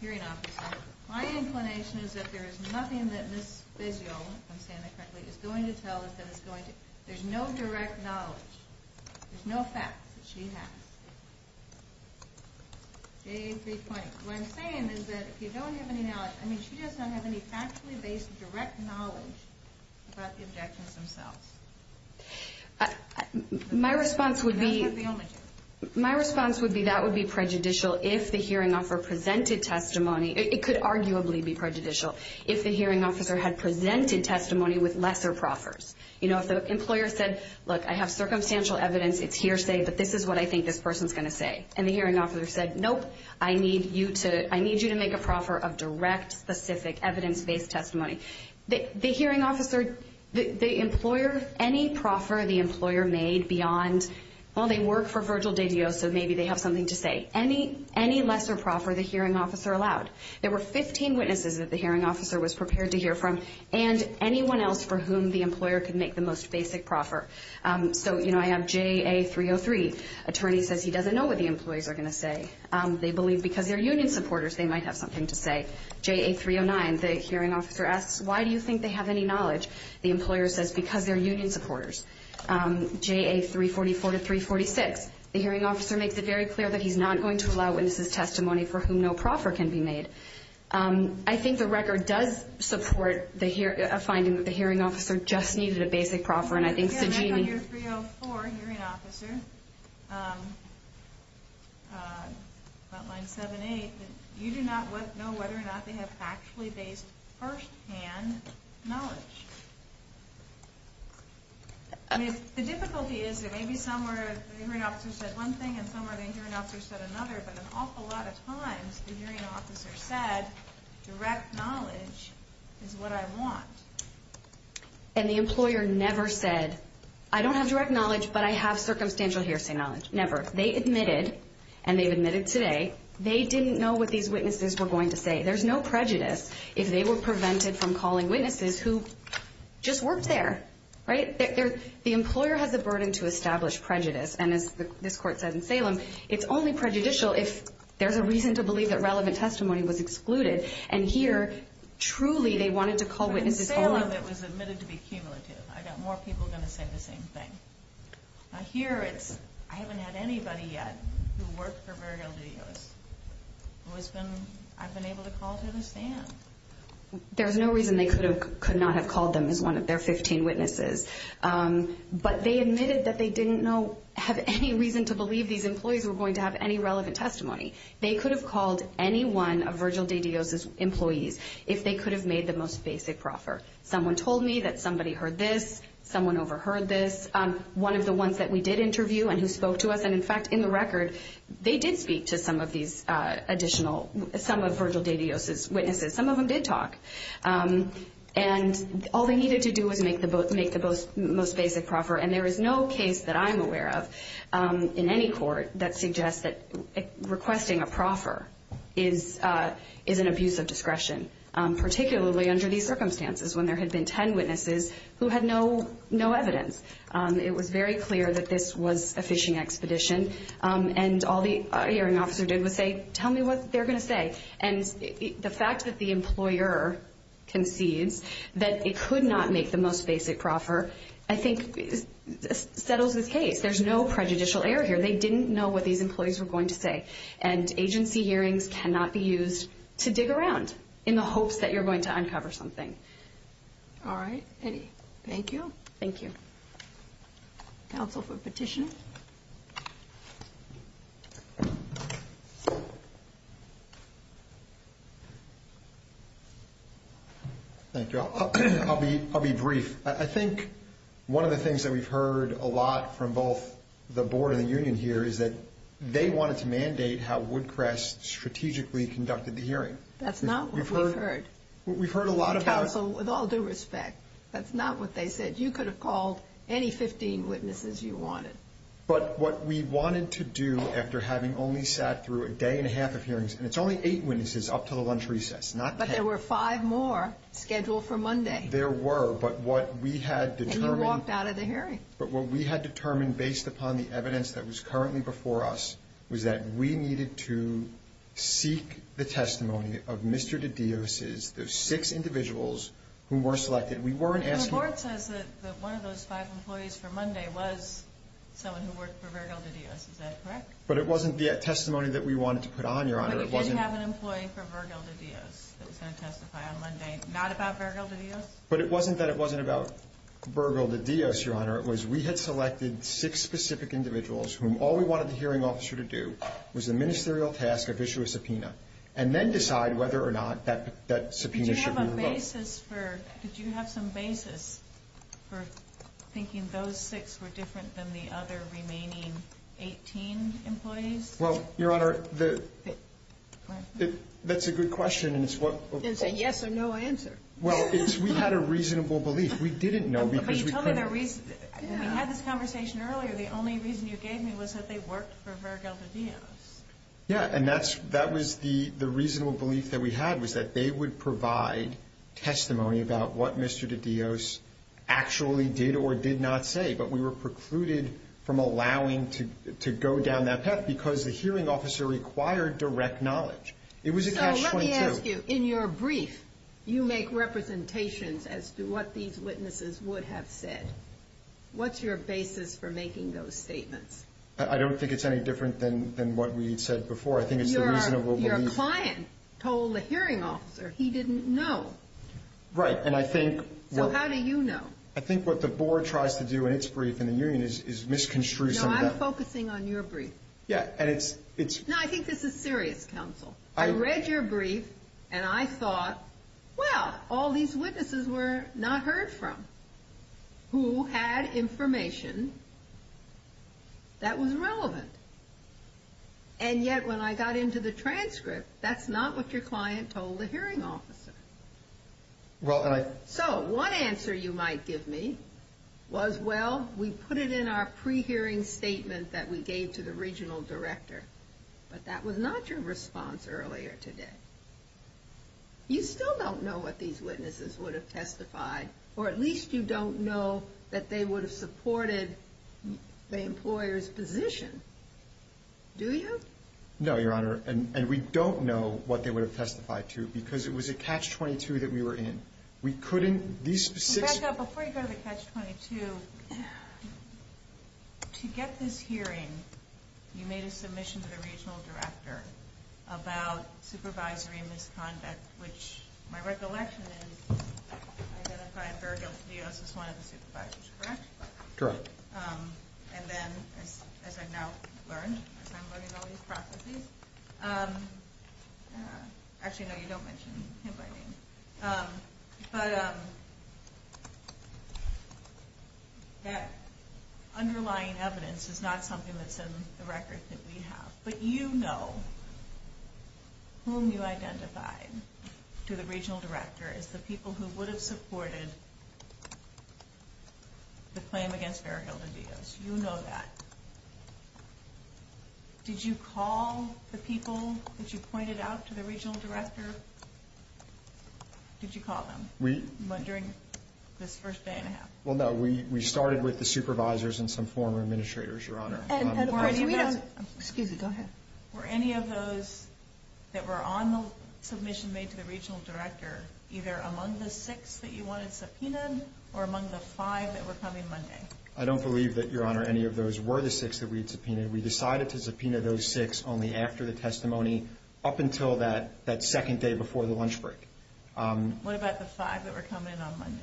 hearing officer, my inclination is that there is nothing that Ms. Fizio, if I'm saying that correctly, is going to tell us that there's no direct knowledge, there's no facts that she has. J320, what I'm saying is that if you don't have any knowledge, I mean, she does not have any factually based direct knowledge about the objections themselves. My response would be that would be prejudicial if the hearing officer presented testimony. It could arguably be prejudicial if the hearing officer had presented testimony with lesser proffers. You know, if the employer said, look, I have circumstantial evidence, it's hearsay, but this is what I think this person's going to say. And the hearing officer said, nope, I need you to make a proffer of direct, specific, evidence-based testimony. The hearing officer, the employer, any proffer the employer made beyond, well, they work for Virgil de Dios, so maybe they have something to say. Any lesser proffer the hearing officer allowed. There were 15 witnesses that the hearing officer was prepared to hear from and anyone else for whom the employer could make the most basic proffer. So, you know, I have JA303, attorney says he doesn't know what the employees are going to say. They believe because they're union supporters, they might have something to say. JA309, the hearing officer asks, why do you think they have any knowledge? The employer says because they're union supporters. JA344 to 346, the hearing officer makes it very clear that he's not going to allow witnesses testimony for whom no proffer can be made. I think the record does support a finding that the hearing officer just needed a basic proffer. Again, on your 304, hearing officer, about line 78, you do not know whether or not they have actually based firsthand knowledge. The difficulty is that maybe somewhere the hearing officer said one thing and somewhere the hearing officer said another, but an awful lot of times the hearing officer said direct knowledge is what I want. And the employer never said, I don't have direct knowledge, but I have circumstantial hearsay knowledge. Never. They admitted, and they've admitted today, they didn't know what these witnesses were going to say. There's no prejudice if they were prevented from calling witnesses who just worked there. Right? The employer has a burden to establish prejudice, and as this court said in Salem, it's only prejudicial if there's a reason to believe that relevant testimony was excluded. And here, truly they wanted to call witnesses only. But in Salem it was admitted to be cumulative. I've got more people going to say the same thing. Here it's, I haven't had anybody yet who worked for Virgil de Dios who has been, I've been able to call to this day. There's no reason they could not have called them as one of their 15 witnesses. But they admitted that they didn't have any reason to believe these employees were going to have any relevant testimony. They could have called any one of Virgil de Dios' employees if they could have made the most basic proffer. Someone told me that somebody heard this. Someone overheard this. One of the ones that we did interview and who spoke to us, and, in fact, in the record, they did speak to some of these additional, some of Virgil de Dios' witnesses. Some of them did talk. And all they needed to do was make the most basic proffer, and there is no case that I'm aware of in any court that suggests that requesting a proffer is an abuse of discretion, particularly under these circumstances when there had been 10 witnesses who had no evidence. It was very clear that this was a phishing expedition, and all the hearing officer did was say, tell me what they're going to say. And the fact that the employer concedes that it could not make the most basic proffer, I think, settles the case. There's no prejudicial error here. They didn't know what these employees were going to say, and agency hearings cannot be used to dig around in the hopes that you're going to uncover something. All right. Eddie, thank you. Thank you. Counsel for petition. Thank you. I'll be brief. I think one of the things that we've heard a lot from both the board and the union here is that they wanted to mandate how Woodcrest strategically conducted the hearing. That's not what we've heard. We've heard a lot about it. Counsel, with all due respect, that's not what they said. You could have called any 15 witnesses you wanted. But what we wanted to do after having only sat through a day and a half of hearings, and it's only eight witnesses up until the lunch recess, not 10. But there were five more scheduled for Monday. There were, but what we had determined. And you walked out of the hearing. But what we had determined based upon the evidence that was currently before us was that we needed to seek the testimony of Mr. DiDio's, those six individuals who were selected. We weren't asking. And the board says that one of those five employees for Monday was someone who worked for Virgil DiDio's. Is that correct? But it wasn't the testimony that we wanted to put on, Your Honor. But it did have an employee for Virgil DiDio's that was going to testify on Monday, not about Virgil DiDio's? But it wasn't that it wasn't about Virgil DiDio's, Your Honor. It was we had selected six specific individuals whom all we wanted the hearing officer to do was the ministerial task of issue a subpoena and then decide whether or not that subpoena should be revoked. Did you have some basis for thinking those six were different than the other remaining 18 employees? Well, Your Honor, that's a good question. It's a yes or no answer. Well, we had a reasonable belief. We didn't know because we couldn't. But you told me the reason. We had this conversation earlier. The only reason you gave me was that they worked for Virgil DiDio's. Yeah, and that was the reasonable belief that we had was that they would provide testimony about what Mr. DiDio's actually did or did not say. But we were precluded from allowing to go down that path because the hearing officer required direct knowledge. So let me ask you. In your brief, you make representations as to what these witnesses would have said. What's your basis for making those statements? I don't think it's any different than what we had said before. I think it's the reasonable belief. Your client told the hearing officer he didn't know. Right, and I think. So how do you know? I think what the board tries to do in its brief in the union is misconstrue some of that. No, I'm focusing on your brief. Yeah, and it's. No, I think this is serious, counsel. I read your brief, and I thought, well, all these witnesses were not heard from who had information that was relevant. And yet when I got into the transcript, that's not what your client told the hearing officer. Well, and I. So one answer you might give me was, Well, we put it in our pre-hearing statement that we gave to the regional director, but that was not your response earlier today. You still don't know what these witnesses would have testified, or at least you don't know that they would have supported the employer's position, do you? No, Your Honor, and we don't know what they would have testified to because it was a catch-22 that we were in. We couldn't. Before you go to the catch-22, to get this hearing, you made a submission to the regional director about supervisory misconduct, which my recollection is identified very guiltily as one of the supervisors, correct? Correct. And then, as I've now learned, as I'm learning all these processes. Actually, no, you don't mention him by name. But that underlying evidence is not something that's in the record that we have. But you know whom you identified to the regional director as the people who would have supported the claim against Fair Hill to do this. You know that. Did you call the people that you pointed out to the regional director? Did you call them during this first day and a half? Well, no, we started with the supervisors and some former administrators, Your Honor. Excuse me, go ahead. Were any of those that were on the submission made to the regional director either among the six that you wanted subpoenaed or among the five that were coming Monday? I don't believe that, Your Honor, any of those were the six that we'd subpoenaed. We decided to subpoena those six only after the testimony up until that second day before the lunch break. What about the five that were coming in on Monday?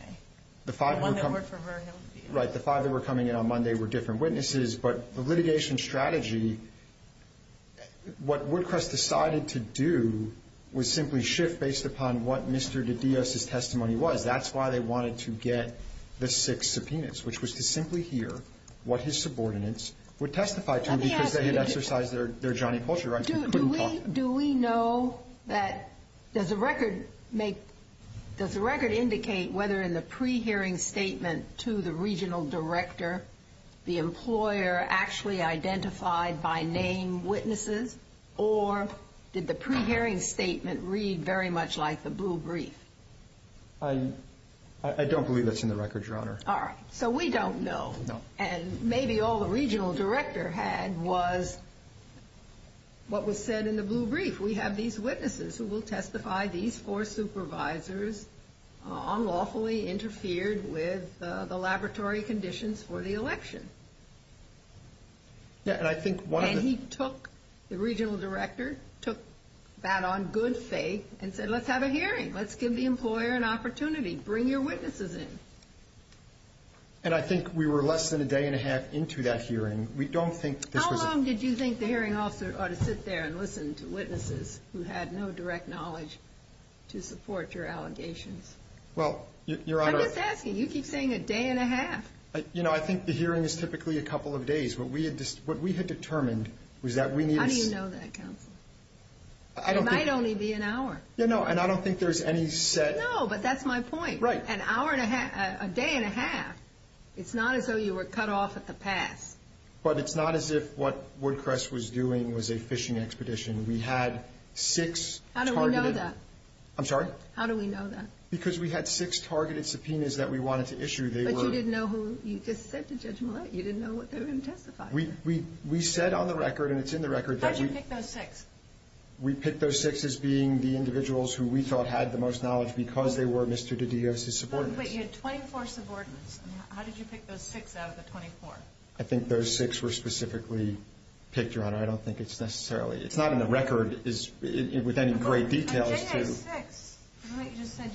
The five that were coming in on Monday were different witnesses. But the litigation strategy, what Woodcrest decided to do was simply shift based upon what Mr. De Dios' testimony was. That's why they wanted to get the six subpoenas, which was to simply hear what his subordinates would testify to because they had exercised their Johnny Pulcher rights. Do we know that, does the record indicate whether in the pre-hearing statement to the regional director the employer actually identified by name witnesses or did the pre-hearing statement read very much like the blue brief? I don't believe that's in the record, Your Honor. All right. So we don't know. And maybe all the regional director had was what was said in the blue brief. We have these witnesses who will testify. These four supervisors unlawfully interfered with the laboratory conditions for the election. And he took the regional director, took that on good faith and said, let's have a hearing. Let's give the employer an opportunity. Bring your witnesses in. And I think we were less than a day and a half into that hearing. How long did you think the hearing officer ought to sit there and listen to witnesses who had no direct knowledge to support your allegations? I'm just asking. You keep saying a day and a half. You know, I think the hearing is typically a couple of days. What we had determined was that we needed to see. How do you know that, counsel? I don't think. It might only be an hour. Yeah, no, and I don't think there's any set. No, but that's my point. Right. An hour and a half, a day and a half. It's not as though you were cut off at the pass. But it's not as if what Woodcrest was doing was a fishing expedition. We had six targeted. How do we know that? I'm sorry? How do we know that? Because we had six targeted subpoenas that we wanted to issue. But you didn't know who you just said to Judge Millett. You didn't know what they were going to testify to. We said on the record, and it's in the record. How did you pick those six? We picked those six as being the individuals who we thought had the most knowledge because they were Mr. DiDio's subordinates. But you had 24 subordinates. How did you pick those six out of the 24? I think those six were specifically picked, Your Honor. I don't think it's necessarily. It's not in the record with any great details. J.A. 6, the one that you just said.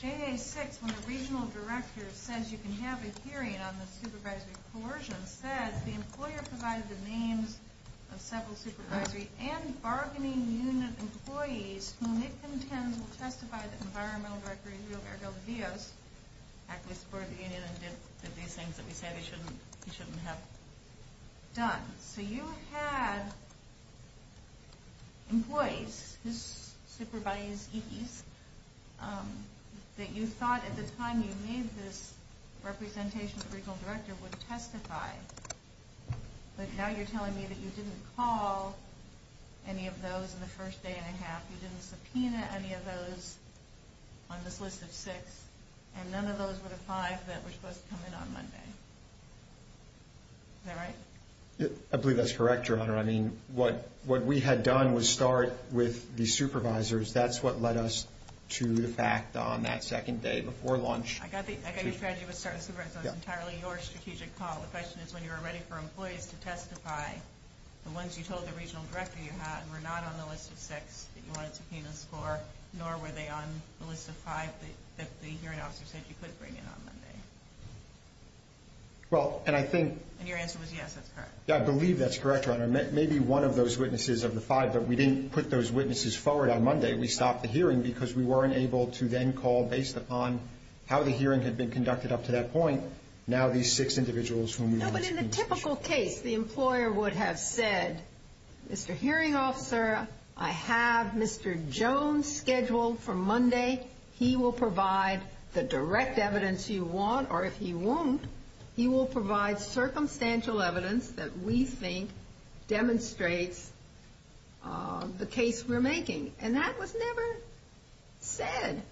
J.A. 6, when the regional director says you can have a hearing on the supervisory coercion, says the employer provided the names of several supervisory and bargaining unit employees whom it contends will testify to the environmental director, who was Ergel DiDio's, actively supported the union and did these things that we said he shouldn't have done. So you had employees whose supervisees that you thought at the time you made this representation the regional director would testify. But now you're telling me that you didn't call any of those in the first day and a half. You didn't subpoena any of those on this list of six, and none of those were the five that were supposed to come in on Monday. Is that right? I believe that's correct, Your Honor. I mean, what we had done was start with the supervisors. That's what led us to the fact on that second day before lunch. I got your strategy was start with supervisors. That was entirely your strategic call. The question is when you were ready for employees to testify, the ones you told the regional director you had were not on the list of six that you wanted to subpoena score, nor were they on the list of five that the hearing officer said you could bring in on Monday. Well, and I think... And your answer was yes, that's correct. Yeah, I believe that's correct, Your Honor. Maybe one of those witnesses of the five, but we didn't put those witnesses forward on Monday. We stopped the hearing because we weren't able to then call, based upon how the hearing had been conducted up to that point, now these six individuals whom we wanted to subpoena. No, but in the typical case, the employer would have said, Mr. Hearing Officer, I have Mr. Jones scheduled for Monday. He will provide the direct evidence you want, or if he won't, he will provide circumstantial evidence that we think demonstrates the case we're making. And that was never said.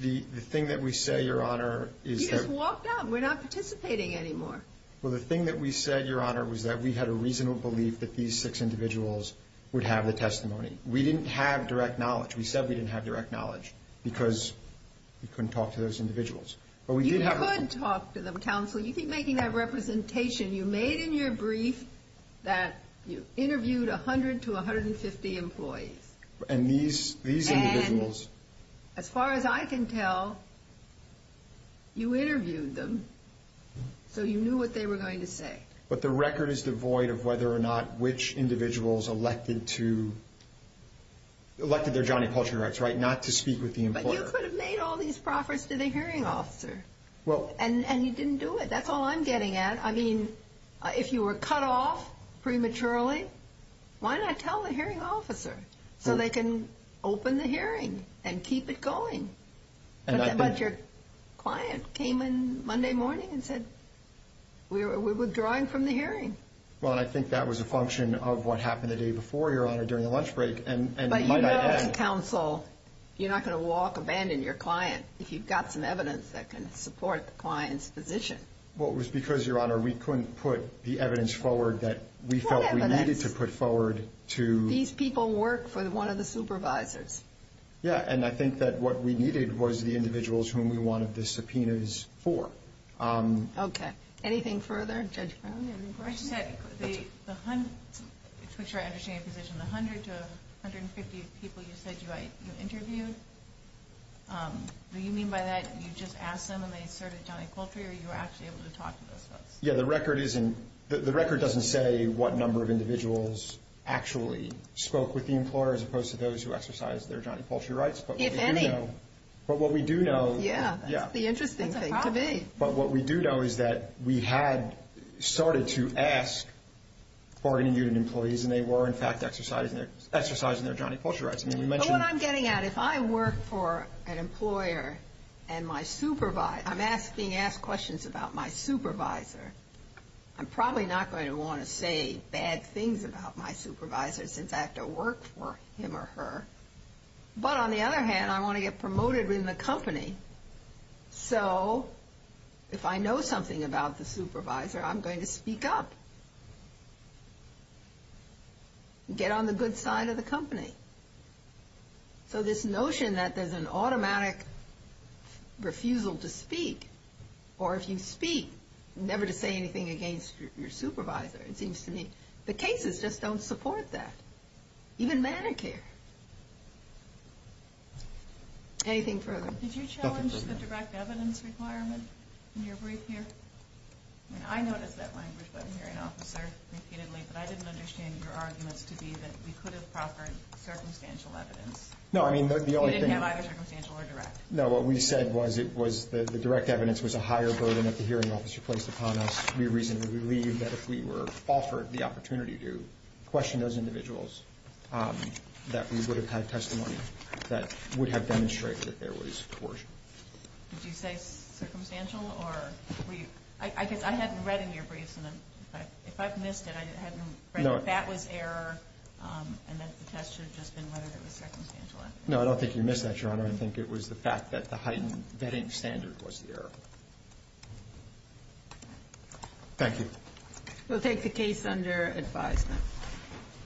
The thing that we say, Your Honor, is that... You just walked out. We're not participating anymore. Well, the thing that we said, Your Honor, was that we had a reasonable belief that these six individuals would have the testimony. We didn't have direct knowledge. We said we didn't have direct knowledge because we couldn't talk to those individuals. You could talk to them, counsel. You keep making that representation. You made in your brief that you interviewed 100 to 150 employees. And these individuals... And as far as I can tell, you interviewed them, so you knew what they were going to say. But the record is devoid of whether or not which individuals elected to... elected their Johnny Pulcher rights, right, not to speak with the employer. But you could have made all these proffers to the Hearing Officer. And you didn't do it. That's all I'm getting at. I mean, if you were cut off prematurely, why not tell the Hearing Officer so they can open the hearing and keep it going? But your client came in Monday morning and said, we're withdrawing from the hearing. Well, and I think that was a function of what happened the day before, Your Honor, during the lunch break, and might I add... But you know, counsel, you're not going to walk, abandon your client if you've got some evidence that can support the client's position. Well, it was because, Your Honor, we couldn't put the evidence forward that we felt we needed to put forward to... These people work for one of the supervisors. Yeah, and I think that what we needed was the individuals whom we wanted the subpoenas for. Okay. Anything further, Judge Brown? The 100 to 150 people you said you interviewed, do you mean by that you just asked them and they asserted Johnny Poultry or you were actually able to talk to those folks? Yeah, the record doesn't say what number of individuals actually spoke with the employer as opposed to those who exercised their Johnny Poultry rights, but what we do know... If any. But what we do know... Yeah, that's the interesting thing to me. But what we do know is that we had started to ask bargaining unit employees and they were, in fact, exercising their Johnny Poultry rights. I mean, we mentioned... But what I'm getting at, if I work for an employer and my supervisor, I'm being asked questions about my supervisor, I'm probably not going to want to say bad things about my supervisor since I have to work for him or her. But on the other hand, I want to get promoted in the company, so if I know something about the supervisor, I'm going to speak up and get on the good side of the company. Or if you speak, never to say anything against your supervisor, it seems to me. The cases just don't support that. Even Medicare. Anything further? Did you challenge the direct evidence requirement in your brief here? I mean, I noticed that language when I'm hearing officer repeatedly, but I didn't understand your arguments to be that we could have proffered circumstantial evidence. No, I mean, the only thing... You didn't have either circumstantial or direct. No, what we said was the direct evidence was a higher burden that the hearing officer placed upon us. We reasonably believe that if we were offered the opportunity to question those individuals, that we would have had testimony that would have demonstrated that there was coercion. Did you say circumstantial? I guess I hadn't read in your briefs, and if I've missed it, I hadn't read that that was error, and that the test should have just been whether it was circumstantial. No, I don't think you missed that, Your Honor. I think it was the fact that the heightened vetting standard was the error. Thank you. We'll take the case under advisement.